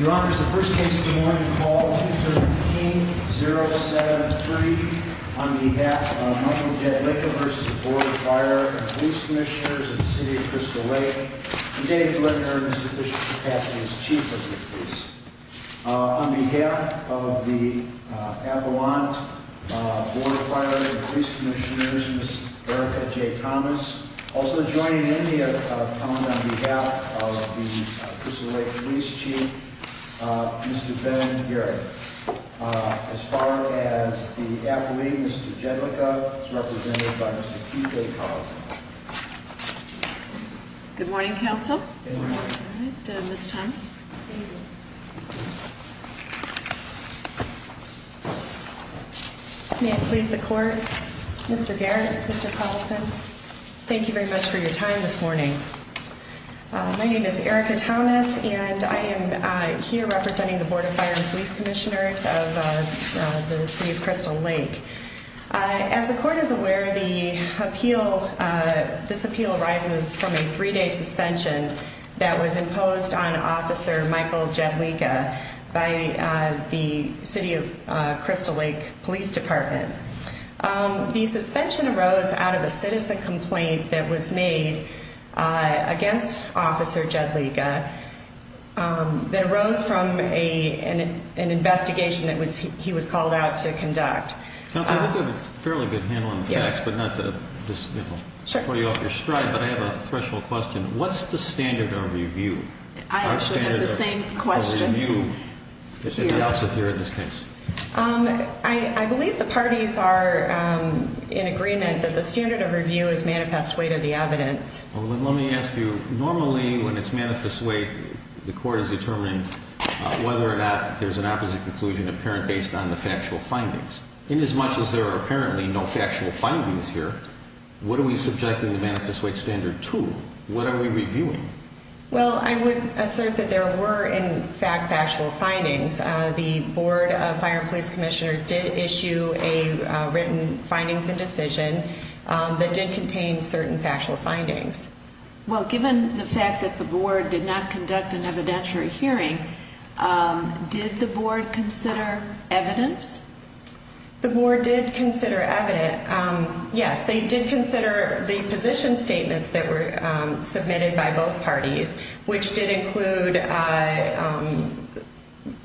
Your Honor, this is the first case of the morning. Call 213-073 on behalf of Michael J. Licka v. Board of Fire & Police Commissioners of the City of Crystal Lake and Dave Licker, Mr. Bishop's capacity as Chief of the Police. On behalf of the Avalon Board of Fire & Police Commissioners, Ms. Erica J. Thomas, also joining me upon behalf of the Crystal Lake Police Chief, Mr. Ben Garrett. As far as the affiliate, Mr. Jedlicka is represented by Mr. Keith A. Collison. Good morning, Counsel. Good morning. Ms. Thomas. Thank you. May it please the Court, Mr. Garrett, Mr. Collison, thank you very much for your time this morning. My name is Erica Thomas and I am here representing the Board of Fire & Police Commissioners of the City of Crystal Lake. As the Court is aware, this appeal arises from a three-day suspension that was imposed on Officer Michael Jedlicka by the City of Crystal Lake Police Department. The suspension arose out of a citizen complaint that was made against Officer Jedlicka that arose from an investigation that he was called out to conduct. Counsel, I think you have a fairly good handle on the facts, but not to throw you off your stride, but I have a threshold question. What's the standard of review? I actually have the same question. What's the standard of review in this case? I believe the parties are in agreement that the standard of review is manifest weight of the evidence. Let me ask you, normally when it's manifest weight, the Court has determined whether or not there's an opposite conclusion apparent based on the factual findings. Inasmuch as there are apparently no factual findings here, what are we subjecting the manifest weight standard to? What are we reviewing? Well, I would assert that there were in fact factual findings. The Board of Fire and Police Commissioners did issue a written findings and decision that did contain certain factual findings. Well, given the fact that the Board did not conduct an evidentiary hearing, did the Board consider evidence? The Board did consider evidence. Yes, they did consider the position statements that were submitted by both parties, which did include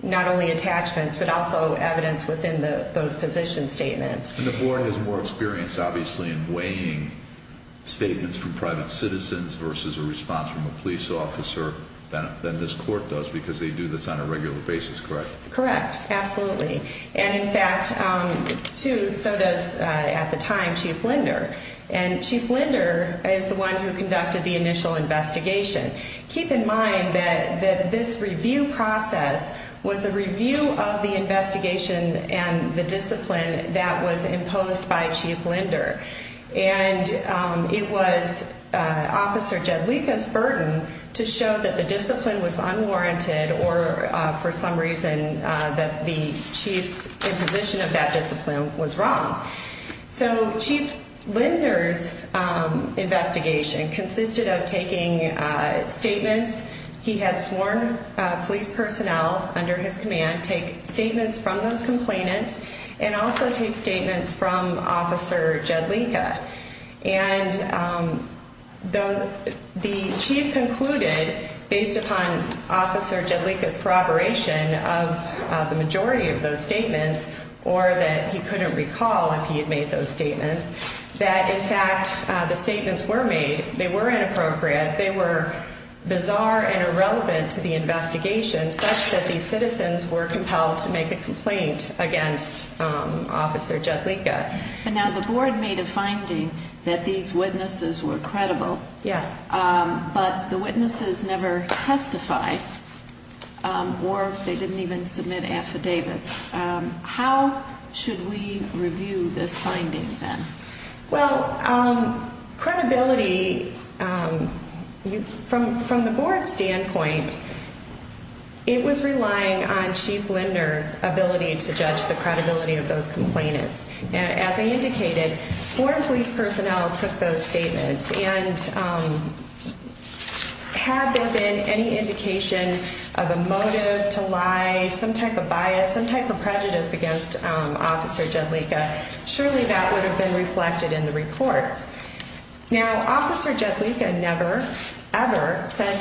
not only attachments, but also evidence within those position statements. And the Board is more experienced, obviously, in weighing statements from private citizens versus a response from a police officer than this court does, because they do this on a regular basis, correct? Correct, absolutely. And in fact, so does, at the time, Chief Linder. And Chief Linder is the one who conducted the initial investigation. Keep in mind that this review process was a review of the investigation and the discipline that was imposed by Chief Linder. And it was Officer Jedlica's burden to show that the discipline was unwarranted or for some reason that the chief's imposition of that discipline was wrong. So Chief Linder's investigation consisted of taking statements. He had sworn police personnel under his command take statements from those complainants and also take statements from Officer Jedlica. And the chief concluded, based upon Officer Jedlica's corroboration of the majority of those statements, or that he couldn't recall if he had made those statements, that in fact the statements were made. They were inappropriate. They were bizarre and irrelevant to the investigation, such that these citizens were compelled to make a complaint against Officer Jedlica. And now the Board made a finding that these witnesses were credible. Yes. But the witnesses never testified or they didn't even submit affidavits. How should we review this finding then? Well, credibility, from the Board's standpoint, it was relying on Chief Linder's ability to judge the credibility of those complainants. As I indicated, sworn police personnel took those statements. And had there been any indication of a motive to lie, some type of bias, some type of prejudice against Officer Jedlica, surely that would have been reflected in the reports. Now, Officer Jedlica never, ever said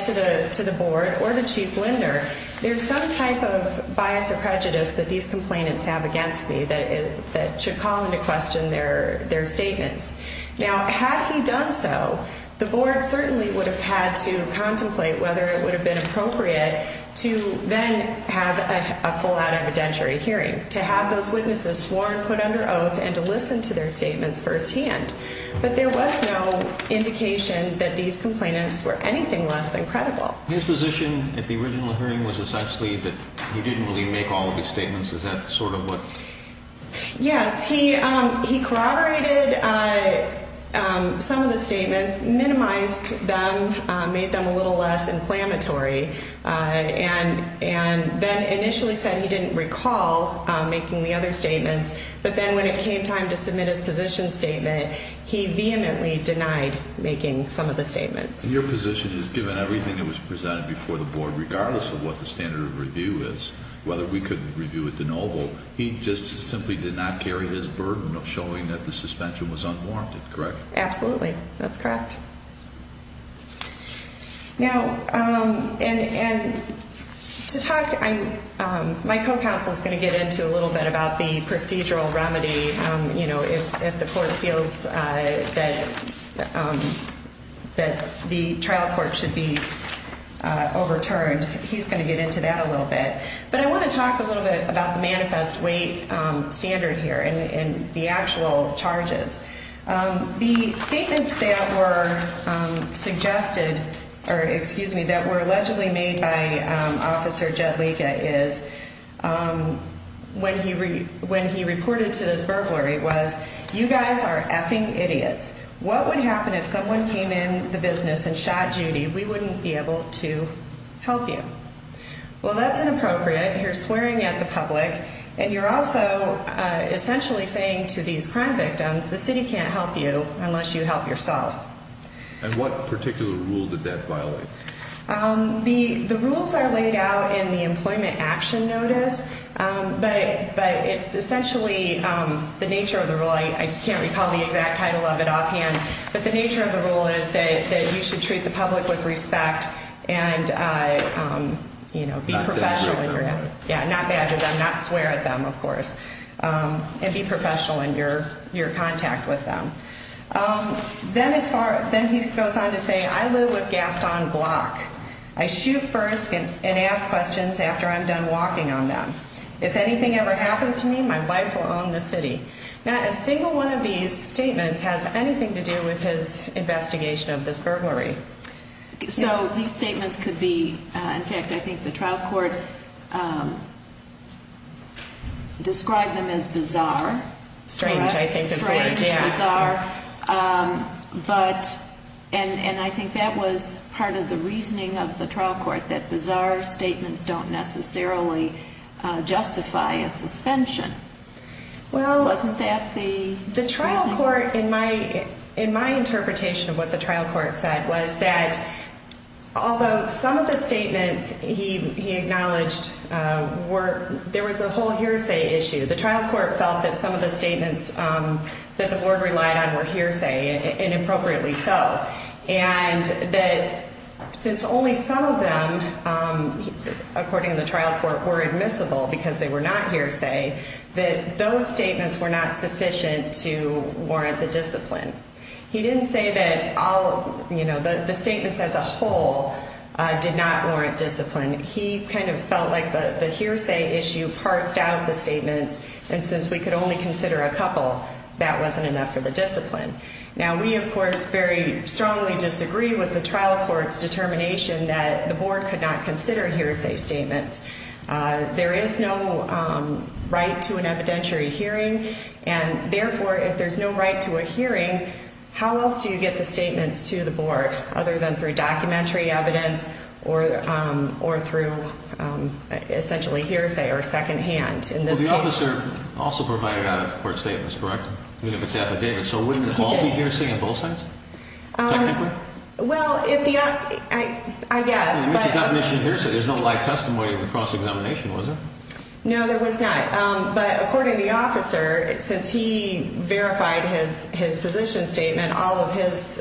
to the Board or to Chief Linder, there's some type of bias or prejudice that these complainants have against me that should call into question their statements. Now, had he done so, the Board certainly would have had to contemplate whether it would have been appropriate to then have a full-out evidentiary hearing, to have those witnesses sworn, put under oath, and to listen to their statements firsthand. But there was no indication that these complainants were anything less than credible. His position at the original hearing was essentially that he didn't really make all of the statements. Is that sort of what? Yes. He corroborated some of the statements, minimized them, made them a little less inflammatory, and then initially said he didn't recall making the other statements. But then when it came time to submit his position statement, he vehemently denied making some of the statements. And your position is, given everything that was presented before the Board, regardless of what the standard of review is, whether we could review it de novo, he just simply did not carry his burden of showing that the suspension was unwarranted, correct? Absolutely. That's correct. Now, and to talk, my co-counsel is going to get into a little bit about the procedural remedy. You know, if the court feels that the trial court should be overturned, he's going to get into that a little bit. But I want to talk a little bit about the manifest weight standard here and the actual charges. The statements that were suggested, or excuse me, that were allegedly made by Officer Jedlica is when he reported to this burglary was, you guys are effing idiots. What would happen if someone came in the business and shot Judy? We wouldn't be able to help you. Well, that's inappropriate. You're swearing at the public. And you're also essentially saying to these crime victims, the city can't help you unless you help yourself. And what particular rule did that violate? The rules are laid out in the Employment Action Notice. But it's essentially the nature of the rule. I can't recall the exact title of it offhand. But the nature of the rule is that you should treat the public with respect and, you know, be professional. Not badger them. Yeah, not badger them. Not swear at them, of course. And be professional in your contact with them. Then he goes on to say, I live with Gaston Glock. I shoot first and ask questions after I'm done walking on them. If anything ever happens to me, my wife will own the city. Now, a single one of these statements has anything to do with his investigation of this burglary. So these statements could be, in fact, I think the trial court described them as bizarre. Strange, I think. Strange, bizarre. And I think that was part of the reasoning of the trial court, that bizarre statements don't necessarily justify a suspension. Well, the trial court, in my interpretation of what the trial court said, was that although some of the statements he acknowledged were, there was a whole hearsay issue. The trial court felt that some of the statements that the board relied on were hearsay, and appropriately so. And that since only some of them, according to the trial court, were admissible because they were not hearsay, that those statements were not sufficient to warrant the discipline. He didn't say that all, you know, the statements as a whole did not warrant discipline. He kind of felt like the hearsay issue parsed out the statements, and since we could only consider a couple, that wasn't enough for the discipline. Now, we, of course, very strongly disagree with the trial court's determination that the board could not consider hearsay statements. There is no right to an evidentiary hearing, and therefore, if there's no right to a hearing, how else do you get the statements to the board other than through documentary evidence or through essentially hearsay or secondhand in this case? Well, the officer also provided out-of-court statements, correct? Even if it's affidavit. He did. So wouldn't it all be hearsay on both sides, technically? Well, I guess. It's a definition of hearsay. There's no live testimony of a cross-examination, was there? No, there was not. But according to the officer, since he verified his position statement, all of his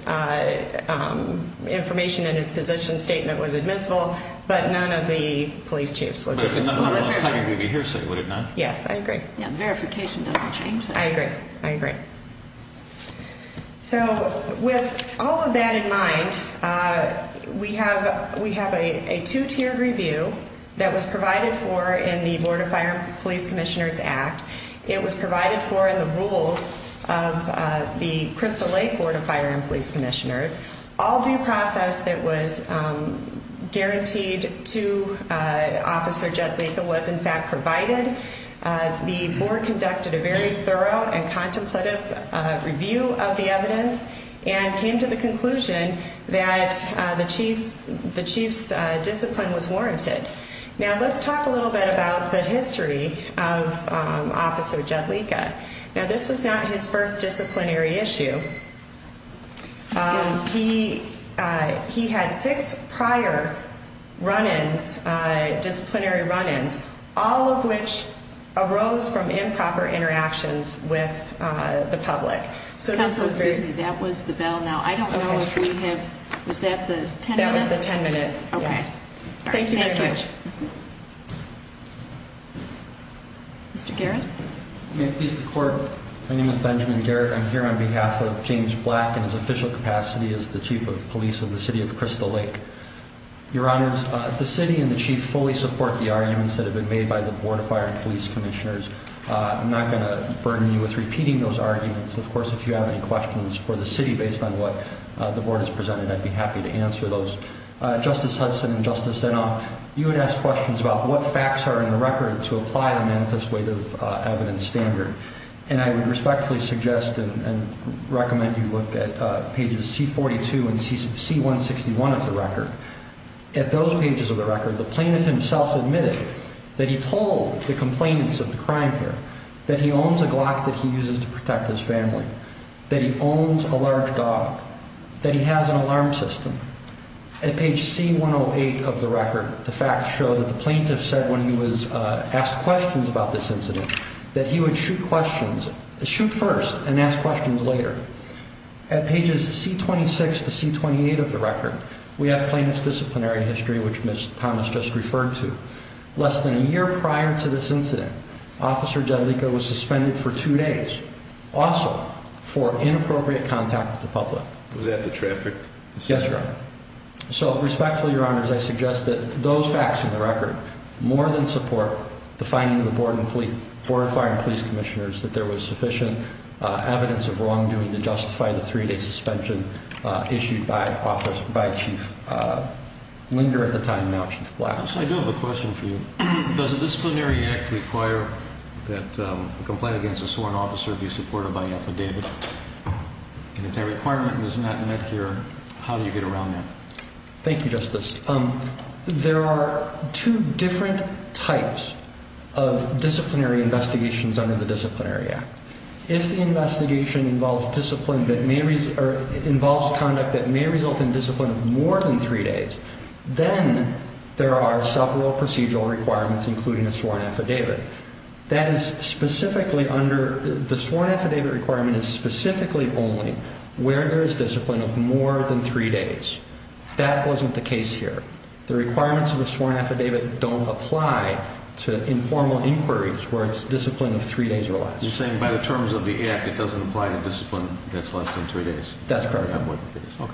information in his position statement was admissible, but none of the police chiefs was admissible. It's not going to be hearsay, would it not? Yes, I agree. Yeah, verification doesn't change that. I agree. I agree. So with all of that in mind, we have a two-tiered review that was provided for in the Board of Fire and Police Commissioners Act. It was provided for in the rules of the Crystal Lake Board of Fire and Police Commissioners. All due process that was guaranteed to Officer Judt Mika was, in fact, provided. The board conducted a very thorough and contemplative review of the evidence and came to the conclusion that the chief's discipline was warranted. Now, let's talk a little bit about the history of Officer Judt Mika. Now, this was not his first disciplinary issue. He had six prior run-ins, disciplinary run-ins, all of which arose from improper interactions with the public. Counsel, excuse me. That was the bell. Now, I don't know if we have—was that the 10-minute? That was the 10-minute. Okay. Thank you very much. Thank you. Mr. Garrett? May it please the Court, my name is Benjamin Garrett. I'm here on behalf of James Flack in his official capacity as the Chief of Police of the City of Crystal Lake. Your Honors, the City and the Chief fully support the arguments that have been made by the Board of Fire and Police Commissioners. I'm not going to burden you with repeating those arguments. Of course, if you have any questions for the City based on what the Board has presented, I'd be happy to answer those. Justice Hudson and Justice Zinoff, you had asked questions about what facts are in the record to apply the manifest weight of evidence standard, and I would respectfully suggest and recommend you look at pages C-42 and C-161 of the record. At those pages of the record, the plaintiff himself admitted that he told the complainants of the crime here that he owns a Glock that he uses to protect his family, that he owns a large dog, that he has an alarm system. At page C-108 of the record, the facts show that the plaintiff said when he was asked questions about this incident, that he would shoot first and ask questions later. At pages C-26 to C-28 of the record, we have plaintiff's disciplinary history, which Ms. Thomas just referred to. Less than a year prior to this incident, Officer Jadlica was suspended for two days, also for inappropriate contact with the public. Was that the traffic? Yes, Your Honor. So respectfully, Your Honors, I suggest that those facts in the record more than support the finding of the Board of Fire and Police Commissioners that there was sufficient evidence of wrongdoing to justify the three-day suspension issued by Chief Linder at the time, now Chief Black. I do have a question for you. Does a disciplinary act require that a complaint against a sworn officer be supported by affidavit? And if that requirement is not met here, how do you get around that? Thank you, Justice. There are two different types of disciplinary investigations under the Disciplinary Act. If the investigation involves conduct that may result in discipline of more than three days, then there are several procedural requirements, including a sworn affidavit. The sworn affidavit requirement is specifically only where there is discipline of more than three days. That wasn't the case here. The requirements of the sworn affidavit don't apply to informal inquiries where it's discipline of three days or less. You're saying by the terms of the Act, it doesn't apply to discipline that's less than three days? That's correct. Okay.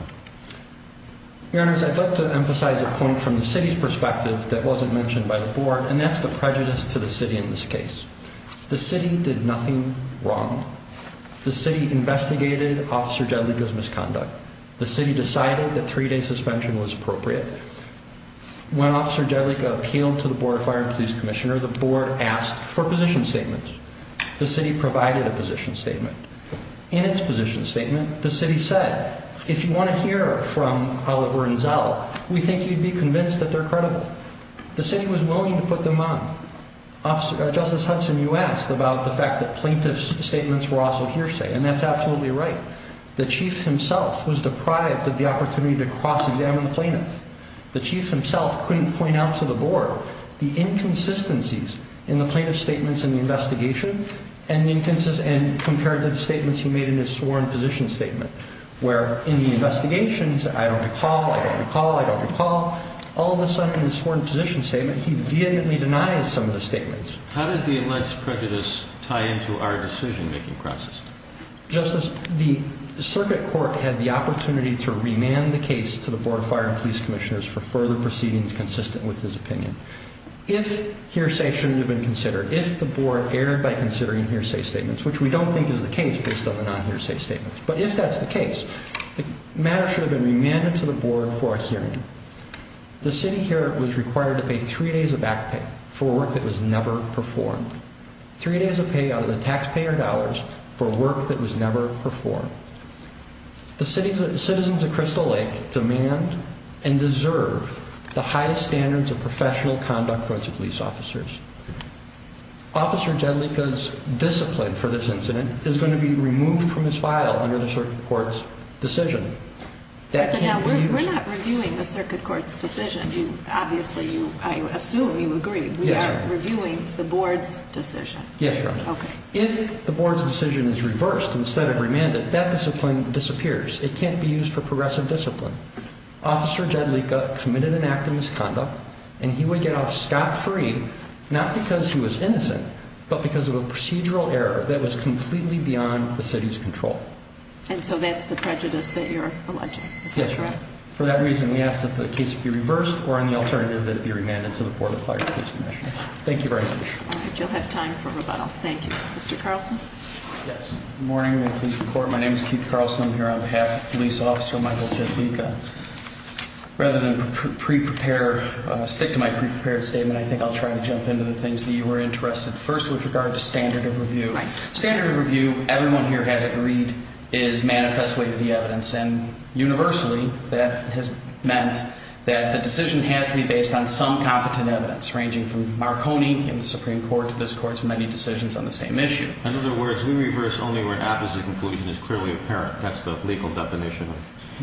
Your Honors, I'd like to emphasize a point from the City's perspective that wasn't mentioned by the Board, and that's the prejudice to the City in this case. The City did nothing wrong. The City investigated Officer Jedlica's misconduct. The City decided that three-day suspension was appropriate. When Officer Jedlica appealed to the Board of Fire and Police Commissioner, the Board asked for position statements. The City provided a position statement. In its position statement, the City said, if you want to hear from Oliver and Zell, we think you'd be convinced that they're credible. The City was willing to put them on. Justice Hudson, you asked about the fact that plaintiff's statements were also hearsay, and that's absolutely right. The Chief himself was deprived of the opportunity to cross-examine the plaintiff. The Chief himself couldn't point out to the Board the inconsistencies in the plaintiff's statements in the investigation and compared to the statements he made in his sworn position statement, where in the investigations, I don't recall, I don't recall, I don't recall, all of a sudden in his sworn position statement, he vehemently denies some of the statements. How does the alleged prejudice tie into our decision-making process? Justice, the Circuit Court had the opportunity to remand the case to the Board of Fire and Police Commissioners for further proceedings consistent with his opinion. If hearsay shouldn't have been considered, if the Board erred by considering hearsay statements, which we don't think is the case based on the non-hearsay statements, but if that's the case, the matter should have been remanded to the Board for a hearing. The city here was required to pay three days of back pay for work that was never performed. Three days of pay out of the taxpayer dollars for work that was never performed. The citizens of Crystal Lake demand and deserve the highest standards of professional conduct for its police officers. Officer Jadlika's discipline for this incident is going to be removed from his file under the Circuit Court's decision. Now, we're not reviewing the Circuit Court's decision. Obviously, I assume you agree. We are reviewing the Board's decision. Yes, Your Honor. Okay. If the Board's decision is reversed instead of remanded, that discipline disappears. It can't be used for progressive discipline. Officer Jadlika committed an act of misconduct, and he would get off scot-free, not because he was innocent, but because of a procedural error that was completely beyond the city's control. And so that's the prejudice that you're alleging. Is that correct? Yes, Your Honor. For that reason, we ask that the case be reversed or, on the alternative, that it be remanded to the Board of Fire and Police Commissioners. Thank you very much. All right. You'll have time for rebuttal. Thank you. Mr. Carlson? Yes. Good morning to the police and the court. My name is Keith Carlson. I'm here on behalf of Police Officer Michael Jadlika. Rather than stick to my pre-prepared statement, I think I'll try to jump into the things that you were interested in. First, with regard to standard of review. Standard of review, everyone here has agreed, is manifest way to the evidence. And universally, that has meant that the decision has to be based on some competent evidence, ranging from Marconi in the Supreme Court to this Court's many decisions on the same issue. In other words, we reverse only where an apposite conclusion is clearly apparent. That's the legal definition.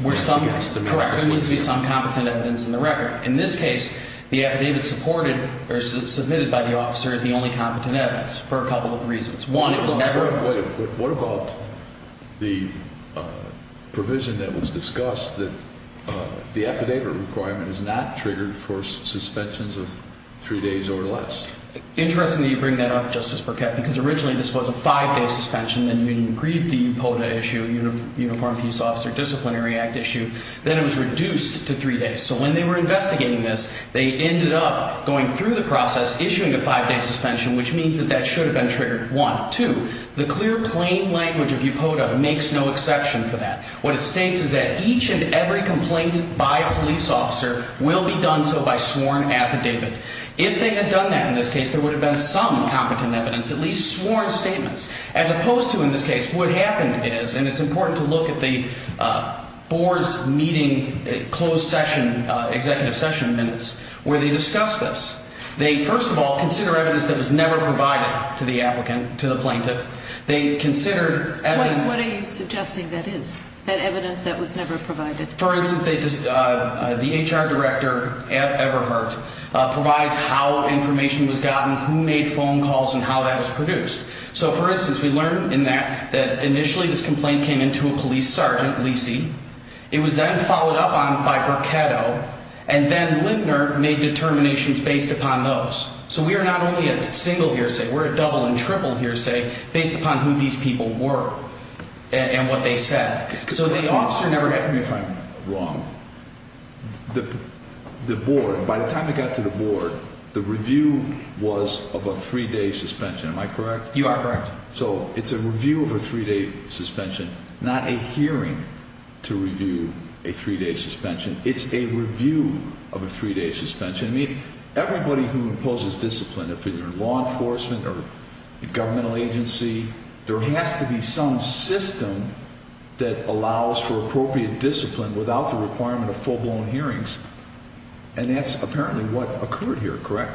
Correct. There needs to be some competent evidence in the record. In this case, the affidavit supported or submitted by the officer is the only competent evidence for a couple of reasons. One, it was never. What about the provision that was discussed that the affidavit requirement is not triggered for suspensions of three days or less? Interestingly, you bring that up, Justice Burkett, because originally this was a five-day suspension, and you didn't agree with the UPOTA issue, Uniform Peace Officer Disciplinary Act issue. Then it was reduced to three days. So when they were investigating this, they ended up going through the process, issuing a five-day suspension, which means that that should have been triggered, one. Two, the clear, plain language of UPOTA makes no exception for that. What it states is that each and every complaint by a police officer will be done so by sworn affidavit. If they had done that in this case, there would have been some competent evidence, at least sworn statements. As opposed to in this case, what happened is, and it's important to look at the board's meeting, closed session, executive session minutes, where they discussed this. They, first of all, consider evidence that was never provided to the applicant, to the plaintiff. They considered evidence. What are you suggesting that is, that evidence that was never provided? For instance, the HR director at Everhart provides how information was gotten, who made phone calls, and how that was produced. So, for instance, we learn in that that initially this complaint came in to a police sergeant, Lisey. It was then followed up on by Burketto. And then Lindner made determinations based upon those. So we are not only a single hearsay. We're a double and triple hearsay based upon who these people were and what they said. So the officer never had to be, if I'm wrong, the board, by the time it got to the board, the review was of a three-day suspension. Am I correct? You are correct. So it's a review of a three-day suspension, not a hearing to review a three-day suspension. It's a review of a three-day suspension. Everybody who imposes discipline, whether law enforcement or governmental agency, there has to be some system that allows for appropriate discipline without the requirement of full-blown hearings. And that's apparently what occurred here, correct?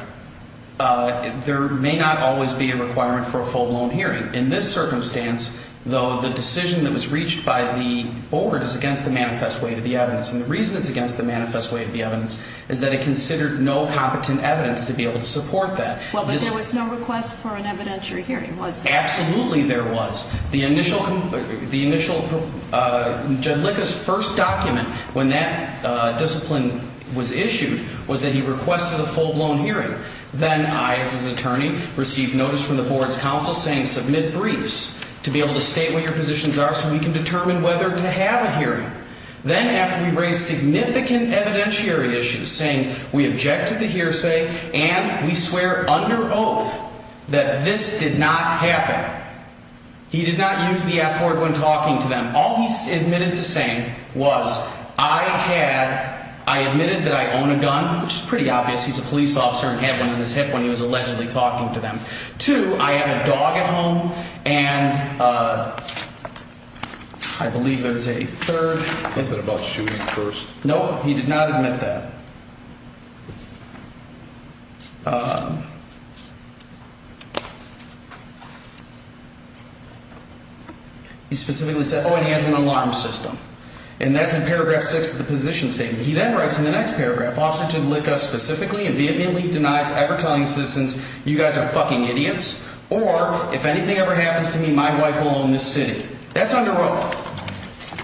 There may not always be a requirement for a full-blown hearing. In this circumstance, though, the decision that was reached by the board is against the manifest way of the evidence. And the reason it's against the manifest way of the evidence is that it considered no competent evidence to be able to support that. Well, but there was no request for an evidentiary hearing, was there? Absolutely there was. The initial, Judlica's first document when that discipline was issued was that he requested a full-blown hearing. Then I, as his attorney, received notice from the board's counsel saying submit briefs to be able to state what your positions are so we can determine whether to have a hearing. Then after we raised significant evidentiary issues, saying we objected to hearsay and we swear under oath that this did not happen, he did not use the f-word when talking to them. All he admitted to saying was I had, I admitted that I own a gun, which is pretty obvious. He's a police officer and had one in his hip when he was allegedly talking to them. Two, I have a dog at home. And I believe there was a third. Something about shooting first. Nope, he did not admit that. He specifically said, oh, and he has an alarm system. And that's in paragraph six of the position statement. He then writes in the next paragraph, officer Judlica specifically and vehemently denies ever telling citizens you guys are f-ing idiots or if anything ever happens to me, my wife will own this city. That's under oath.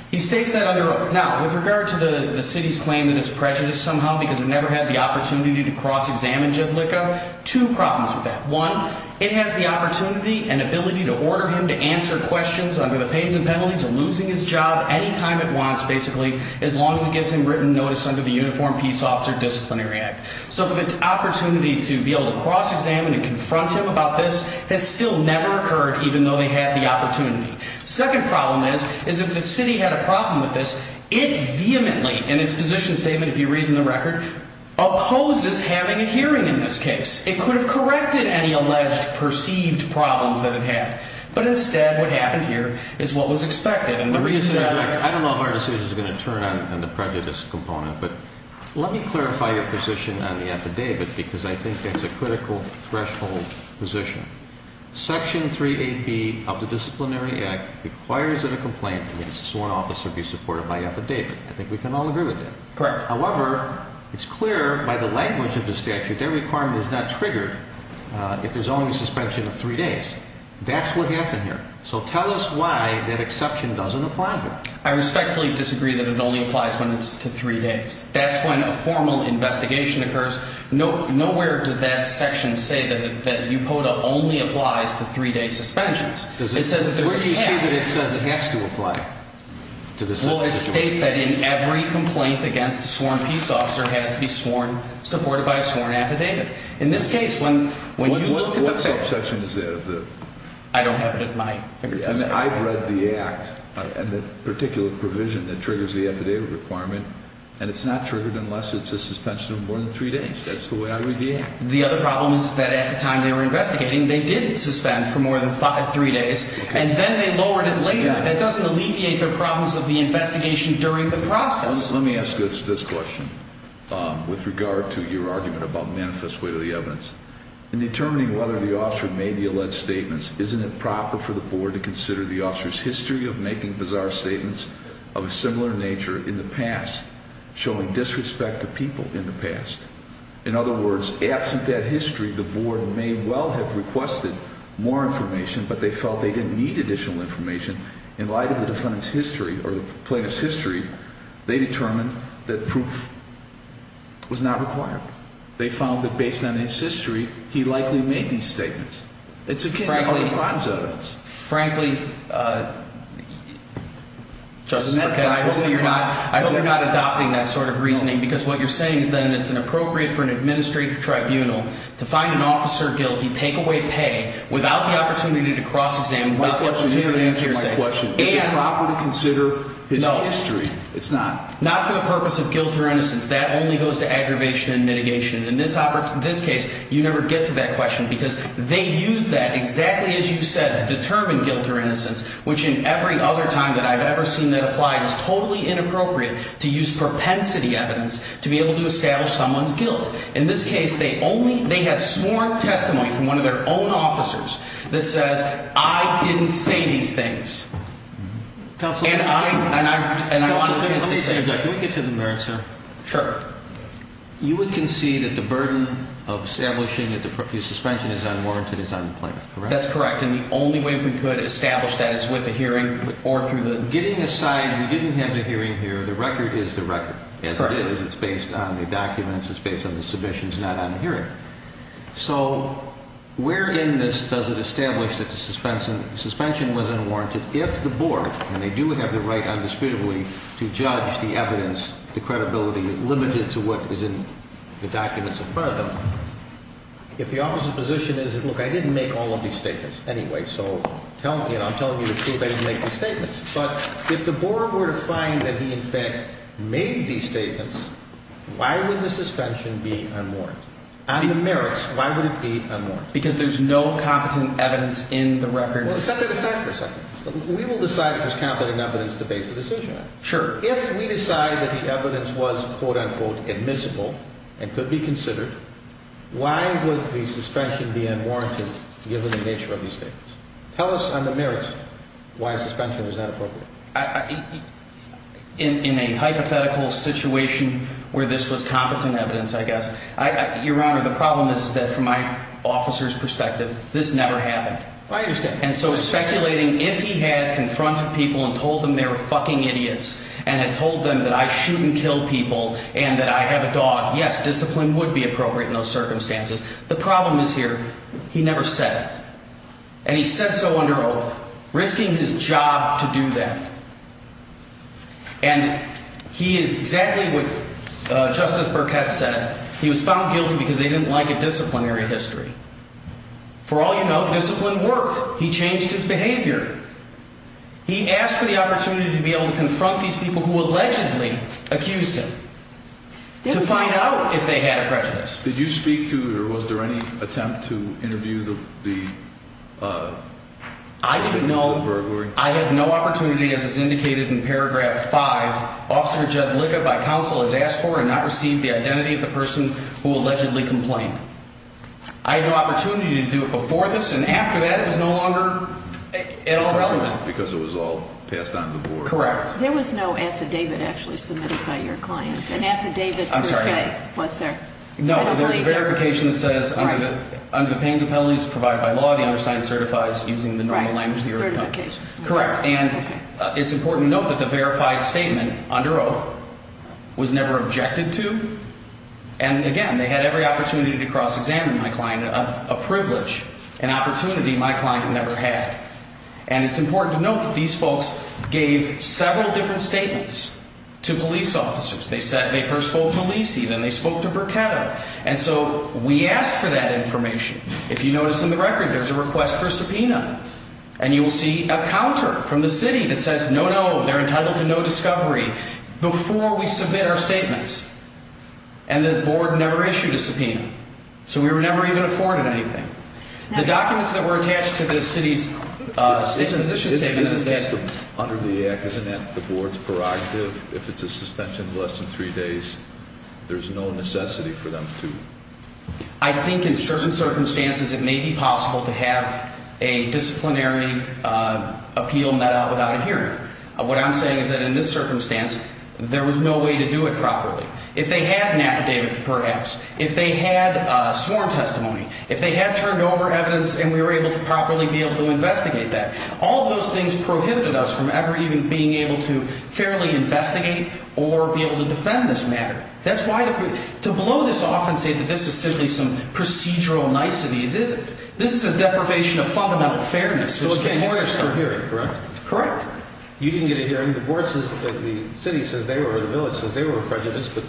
He states that under oath. Now, with regard to the city's claim that it's prejudiced somehow because it never had the opportunity to cross-examine Judlica, two problems with that. One, it has the opportunity and ability to order him to answer questions under the pains and penalties of losing his job any time it wants, basically, as long as it gives him written notice under the Uniform Peace Officer Disciplinary Act. So for the opportunity to be able to cross-examine and confront him about this has still never occurred, even though they had the opportunity. Second problem is, is if the city had a problem with this, it vehemently in its position statement, if you read in the record, opposes having a hearing in this case. It could have corrected any alleged perceived problems that it had, but instead what happened here is what was expected. I don't know if our decision is going to turn on the prejudice component, but let me clarify your position on the affidavit because I think it's a critical threshold position. Section 3AB of the Disciplinary Act requires that a complaint against a sworn officer be supported by affidavit. I think we can all agree with that. Correct. However, it's clear by the language of the statute that requirement is not triggered if there's only a suspension of three days. That's what happened here. So tell us why that exception doesn't apply here. I respectfully disagree that it only applies when it's to three days. That's when a formal investigation occurs. Nowhere does that section say that UPODA only applies to three-day suspensions. Where do you see that it says it has to apply? Well, it states that in every complaint against a sworn peace officer has to be supported by a sworn affidavit. In this case, when you look at the facts. What subsection is that? I don't have it at my fingertips. I've read the Act and the particular provision that triggers the affidavit requirement, and it's not triggered unless it's a suspension of more than three days. That's the way I read the Act. The other problem is that at the time they were investigating, they did suspend for more than three days, and then they lowered it later. That doesn't alleviate their problems of the investigation during the process. Let me ask this question with regard to your argument about manifest way to the evidence. In determining whether the officer made the alleged statements, isn't it proper for the board to consider the officer's history of making bizarre statements of a similar nature in the past, showing disrespect to people in the past? In other words, absent that history, the board may well have requested more information, but they felt they didn't need additional information. In light of the defendant's history or the plaintiff's history, they determined that proof was not required. They found that based on his history, he likely made these statements. It's akin to other crimes of evidence. Frankly, I hope you're not adopting that sort of reasoning, because what you're saying is that it's appropriate for an administrative tribunal to find an officer guilty, take away pay, without the opportunity to cross-examine, without the opportunity to hear his answer. Is it proper to consider his history? It's not. Not for the purpose of guilt or innocence. That only goes to aggravation and mitigation. In this case, you never get to that question, because they used that, exactly as you said, to determine guilt or innocence, which in every other time that I've ever seen that applied is totally inappropriate to use propensity evidence to be able to establish someone's guilt. In this case, they have sworn testimony from one of their own officers that says, I didn't say these things. Counsel, can we get to the merits here? Sure. You would concede that the burden of establishing that the suspension is unwarranted is on the plaintiff, correct? That's correct. And the only way we could establish that is with a hearing or through the… Getting aside, we didn't have the hearing here. The record is the record, as it is. Correct. It's based on the documents. It's based on the submissions, not on the hearing. So where in this does it establish that the suspension was unwarranted if the board, and they do have the right undisputably to judge the evidence, the credibility, limited to what is in the documents in front of them, if the officer's position is, look, I didn't make all of these statements anyway, so I'm telling you the truth, I didn't make these statements. But if the board were to find that he, in fact, made these statements, why would the suspension be unwarranted? On the merits, why would it be unwarranted? Because there's no competent evidence in the record. Well, set that aside for a second. We will decide if there's competent evidence to base the decision on. Sure. If we decide that the evidence was, quote, unquote, admissible and could be considered, why would the suspension be unwarranted given the nature of these statements? Tell us on the merits why a suspension is not appropriate. In a hypothetical situation where this was competent evidence, I guess. Your Honor, the problem is that from my officer's perspective, this never happened. I understand. And so speculating, if he had confronted people and told them they were fucking idiots and had told them that I shoot and kill people and that I have a dog, yes, discipline would be appropriate in those circumstances. The problem is here. He never said it. And he said so under oath, risking his job to do that. And he is exactly what Justice Burkett said. He was found guilty because they didn't like a disciplinary history. For all you know, discipline works. He changed his behavior. He asked for the opportunity to be able to confront these people who allegedly accused him to find out if they had a prejudice. Did you speak to or was there any attempt to interview the. I didn't know. I had no opportunity, as is indicated in paragraph five. Officer Judd Liggett, by counsel, has asked for and not received the identity of the person who allegedly complained. I had no opportunity to do it before this and after that. It was no longer at all relevant because it was all passed on to the board. Correct. There was no affidavit actually submitted by your client. An affidavit. I'm sorry. Was there? No. There's a verification that says under the pains of penalties provided by law, the undersigned certifies using the normal language. Certification. Correct. And it's important to note that the verified statement under oath was never objected to. And again, they had every opportunity to cross examine my client, a privilege, an opportunity my client never had. And it's important to note that these folks gave several different statements to police officers. They said they first spoke to Malisi, then they spoke to Burketta. And so we asked for that information. If you notice in the record, there's a request for subpoena. And you will see a counter from the city that says no, no, they're entitled to no discovery before we submit our statements. And the board never issued a subpoena. So we were never even afforded anything. The documents that were attached to the city's position statement. Under the act, isn't that the board's prerogative? If it's a suspension of less than three days, there's no necessity for them to. I think in certain circumstances it may be possible to have a disciplinary appeal met out without a hearing. What I'm saying is that in this circumstance, there was no way to do it properly. If they had an affidavit, perhaps. If they had sworn testimony. If they had turned over evidence and we were able to properly be able to investigate that. All of those things prohibited us from ever even being able to fairly investigate or be able to defend this matter. That's why to blow this off and say that this is simply some procedural niceties isn't. This is a deprivation of fundamental fairness. You didn't get a hearing, correct? Correct. You didn't get a hearing. The city says they were, the village says they were prejudiced. But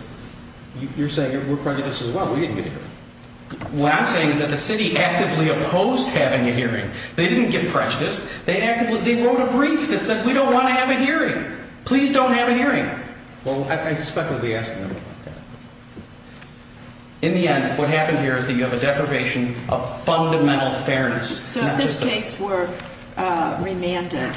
you're saying we're prejudiced as well. We didn't get a hearing. What I'm saying is that the city actively opposed having a hearing. They didn't get prejudiced. Please don't have a hearing. Well, I suspect we'll be asking them about that. In the end, what happened here is that you have a deprivation of fundamental fairness. So if this case were remanded,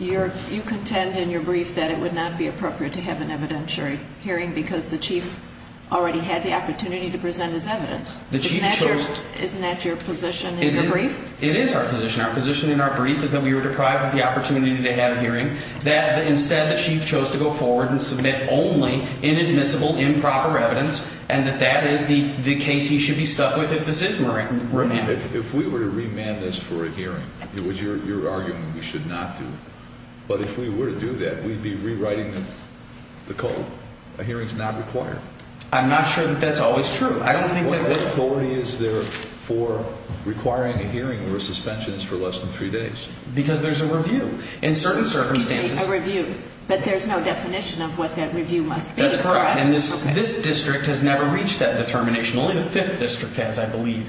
you contend in your brief that it would not be appropriate to have an evidentiary hearing because the chief already had the opportunity to present his evidence. The chief chose. Isn't that your position in your brief? It is our position. Our position in our brief is that we were deprived of the opportunity to have a hearing. That instead the chief chose to go forward and submit only inadmissible improper evidence and that that is the case he should be stuck with if this is remanded. If we were to remand this for a hearing, it was your argument we should not do it. But if we were to do that, we'd be rewriting the code. A hearing is not required. I'm not sure that that's always true. What authority is there for requiring a hearing where a suspension is for less than three days? Because there's a review. In certain circumstances. Excuse me, a review. But there's no definition of what that review must be, correct? That's correct. And this district has never reached that determination. Only the fifth district has, I believe.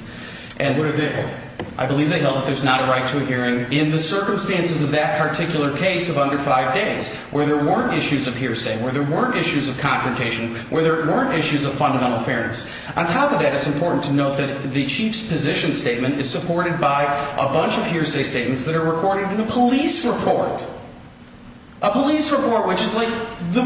And what did they hold? I believe they held that there's not a right to a hearing in the circumstances of that particular case of under five days where there weren't issues of hearsay, where there weren't issues of confrontation, where there weren't issues of fundamental fairness. On top of that, it's important to note that the chief's position statement is supported by a bunch of hearsay statements that are recorded in a police report. A police report, which is like the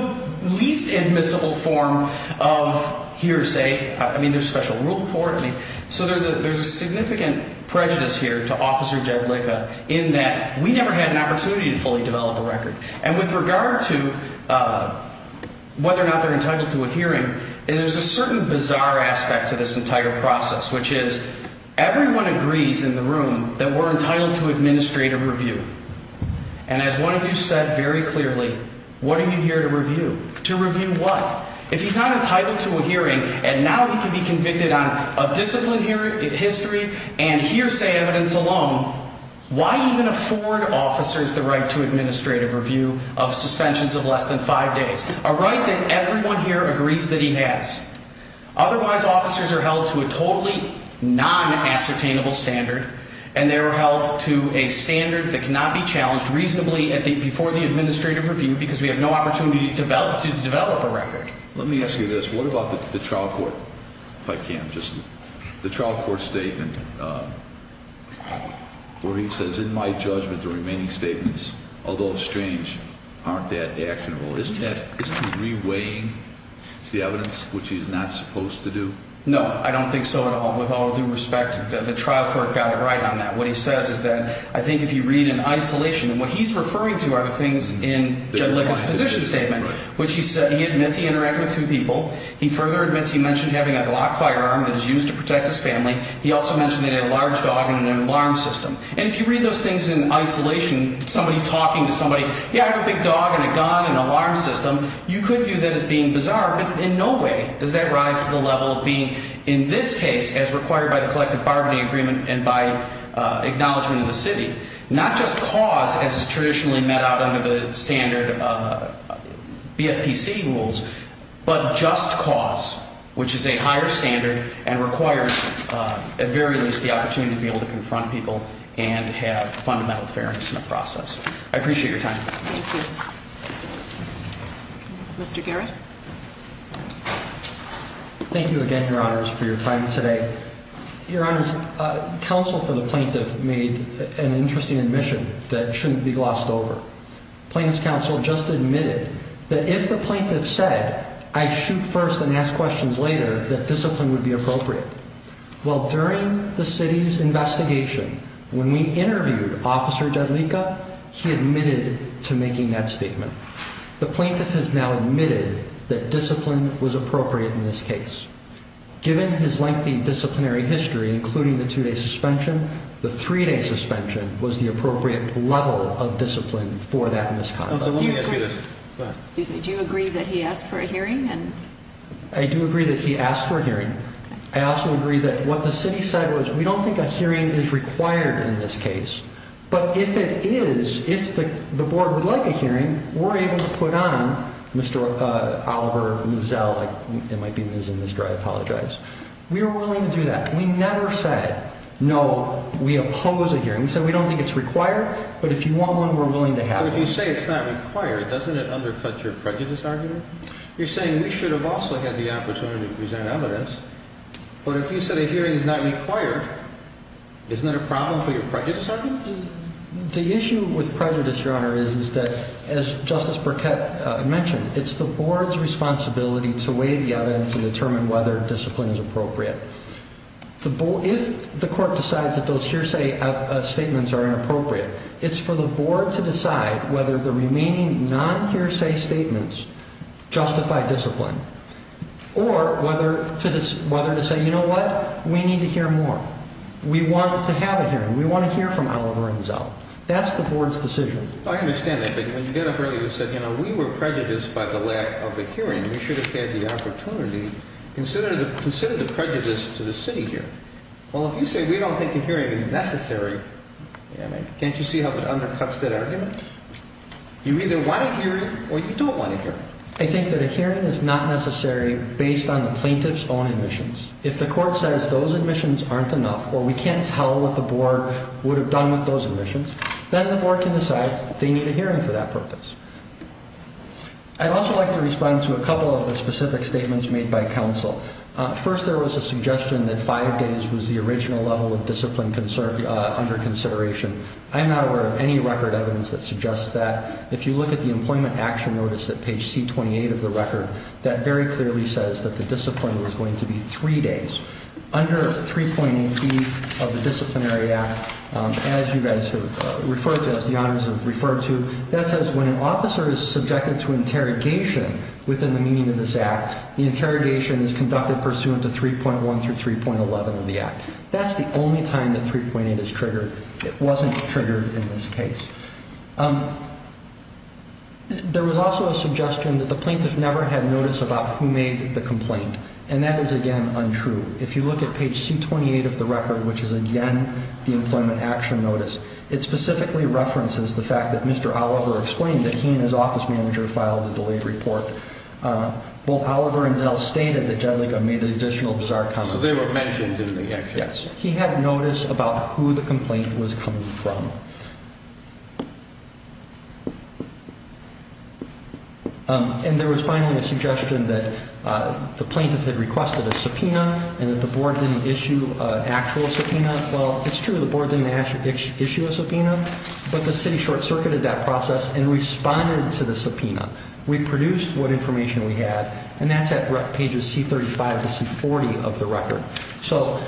least admissible form of hearsay. I mean, there's a special rule for it. So there's a significant prejudice here to Officer Jed Licka in that we never had an opportunity to fully develop a record. And with regard to whether or not they're entitled to a hearing, there's a certain bizarre aspect to this entire process, which is everyone agrees in the room that we're entitled to administrative review. And as one of you said very clearly, what are you here to review? To review what? If he's not entitled to a hearing and now he can be convicted on a discipline hearing, history, and hearsay evidence alone, why even afford officers the right to administrative review of suspensions of less than five days? A right that everyone here agrees that he has. Otherwise, officers are held to a totally non-ascertainable standard, and they are held to a standard that cannot be challenged reasonably before the administrative review because we have no opportunity to develop a record. Let me ask you this. What about the trial court? If I can, just the trial court statement where he says, in my judgment, the remaining statements, although strange, aren't that actionable. Isn't he re-weighing the evidence, which he's not supposed to do? No, I don't think so at all. With all due respect, the trial court got it right on that. What he says is that I think if you read in isolation, and what he's referring to are the things in Judge Lippitt's position statement, which he admits he interacted with two people. He further admits he mentioned having a Glock firearm that was used to protect his family. He also mentioned they had a large dog and an alarm system. And if you read those things in isolation, somebody talking to somebody, yeah, I have a big dog and a gun and an alarm system, you could view that as being bizarre, but in no way does that rise to the level of being, in this case, as required by the collective bargaining agreement and by acknowledgement of the city. Not just cause, as is traditionally met out under the standard BFPC rules, but just cause, which is a higher standard and requires, at very least, the opportunity to be able to confront people and have fundamental fairness in the process. I appreciate your time. Thank you. Mr. Garrett? Thank you again, Your Honors, for your time today. Your Honors, counsel for the plaintiff made an interesting admission that shouldn't be glossed over. Plaintiff's counsel just admitted that if the plaintiff said, I shoot first and ask questions later, that discipline would be appropriate. Well, during the city's investigation, when we interviewed Officer Jadlica, he admitted to making that statement. The plaintiff has now admitted that discipline was appropriate in this case. Given his lengthy disciplinary history, including the two-day suspension, the three-day suspension was the appropriate level of discipline for that misconduct. Do you agree that he asked for a hearing? I do agree that he asked for a hearing. I also agree that what the city said was, we don't think a hearing is required in this case. But if it is, if the board would like a hearing, we're able to put on Mr. Oliver, Ms. Zell, it might be Ms. and Ms. Dry, I apologize. We are willing to do that. We never said, no, we oppose a hearing. We said we don't think it's required, but if you want one, we're willing to have one. But if you say it's not required, doesn't it undercut your prejudice argument? You're saying we should have also had the opportunity to present evidence, but if you said a hearing is not required, isn't that a problem for your prejudice argument? The issue with prejudice, Your Honor, is that, as Justice Burkett mentioned, it's the board's responsibility to weigh the evidence and determine whether discipline is appropriate. If the court decides that those hearsay statements are inappropriate, it's for the board to decide whether the remaining non-hearsay statements justify discipline, or whether to say, you know what, we need to hear more. We want to have a hearing. We want to hear from Oliver and Zell. That's the board's decision. I understand that, but when you got up earlier and said, you know, we were prejudiced by the lack of a hearing, we should have had the opportunity. Consider the prejudice to the city here. Well, if you say we don't think a hearing is necessary, can't you see how that undercuts that argument? You either want a hearing or you don't want a hearing. I think that a hearing is not necessary based on the plaintiff's own admissions. If the court says those admissions aren't enough, or we can't tell what the board would have done with those admissions, then the board can decide they need a hearing for that purpose. I'd also like to respond to a couple of the specific statements made by counsel. First, there was a suggestion that five days was the original level of discipline under consideration. I'm not aware of any record evidence that suggests that. If you look at the Employment Action Notice at page C-28 of the record, that very clearly says that the discipline was going to be three days. Under 3.8b of the Disciplinary Act, as you guys have referred to, as the honors have referred to, that says when an officer is subjected to interrogation within the meaning of this act, the interrogation is conducted pursuant to 3.1 through 3.11 of the act. That's the only time that 3.8 is triggered. It wasn't triggered in this case. There was also a suggestion that the plaintiff never had notice about who made the complaint, and that is, again, untrue. If you look at page C-28 of the record, which is, again, the Employment Action Notice, it specifically references the fact that Mr. Oliver explained that he and his office manager filed a delayed report. Both Oliver and Zell stated that Jedlica made additional bizarre comments. So they were mentioned in the action. Yes. He had notice about who the complaint was coming from. And there was finally a suggestion that the plaintiff had requested a subpoena and that the board didn't issue an actual subpoena. Well, it's true the board didn't issue a subpoena, but the city short-circuited that process and responded to the subpoena. We produced what information we had, and that's at pages C-35 to C-40 of the record. So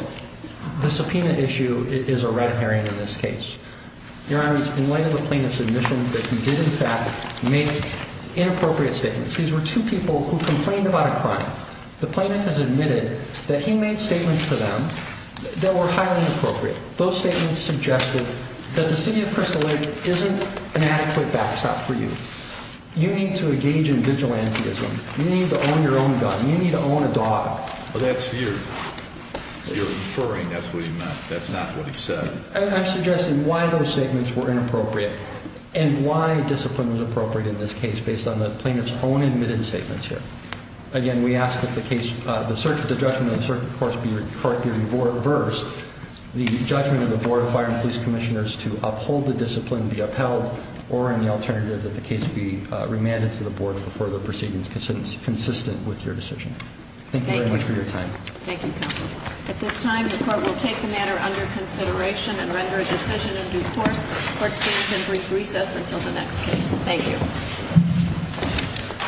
the subpoena issue is a red herring in this case. Your Honor, in light of the plaintiff's admission that he did, in fact, make inappropriate statements. These were two people who complained about a crime. The plaintiff has admitted that he made statements to them that were highly inappropriate. Those statements suggested that the city of Crystal Lake isn't an adequate backstop for you. You need to engage in vigilantism. You need to own your own gun. You need to own a dog. Well, that's your referring. That's what he meant. That's not what he said. I'm suggesting why those statements were inappropriate and why discipline was appropriate in this case, based on the plaintiff's own admitted statements here. Again, we ask that the judgment of the circuit court be reversed, the judgment of the board of fire and police commissioners to uphold the discipline be upheld, or, in the alternative, that the case be remanded to the board for further proceedings consistent with your decision. Thank you, counsel. At this time, the court will take the matter under consideration and render a decision in due course. The court stands in brief recess until the next case. Thank you.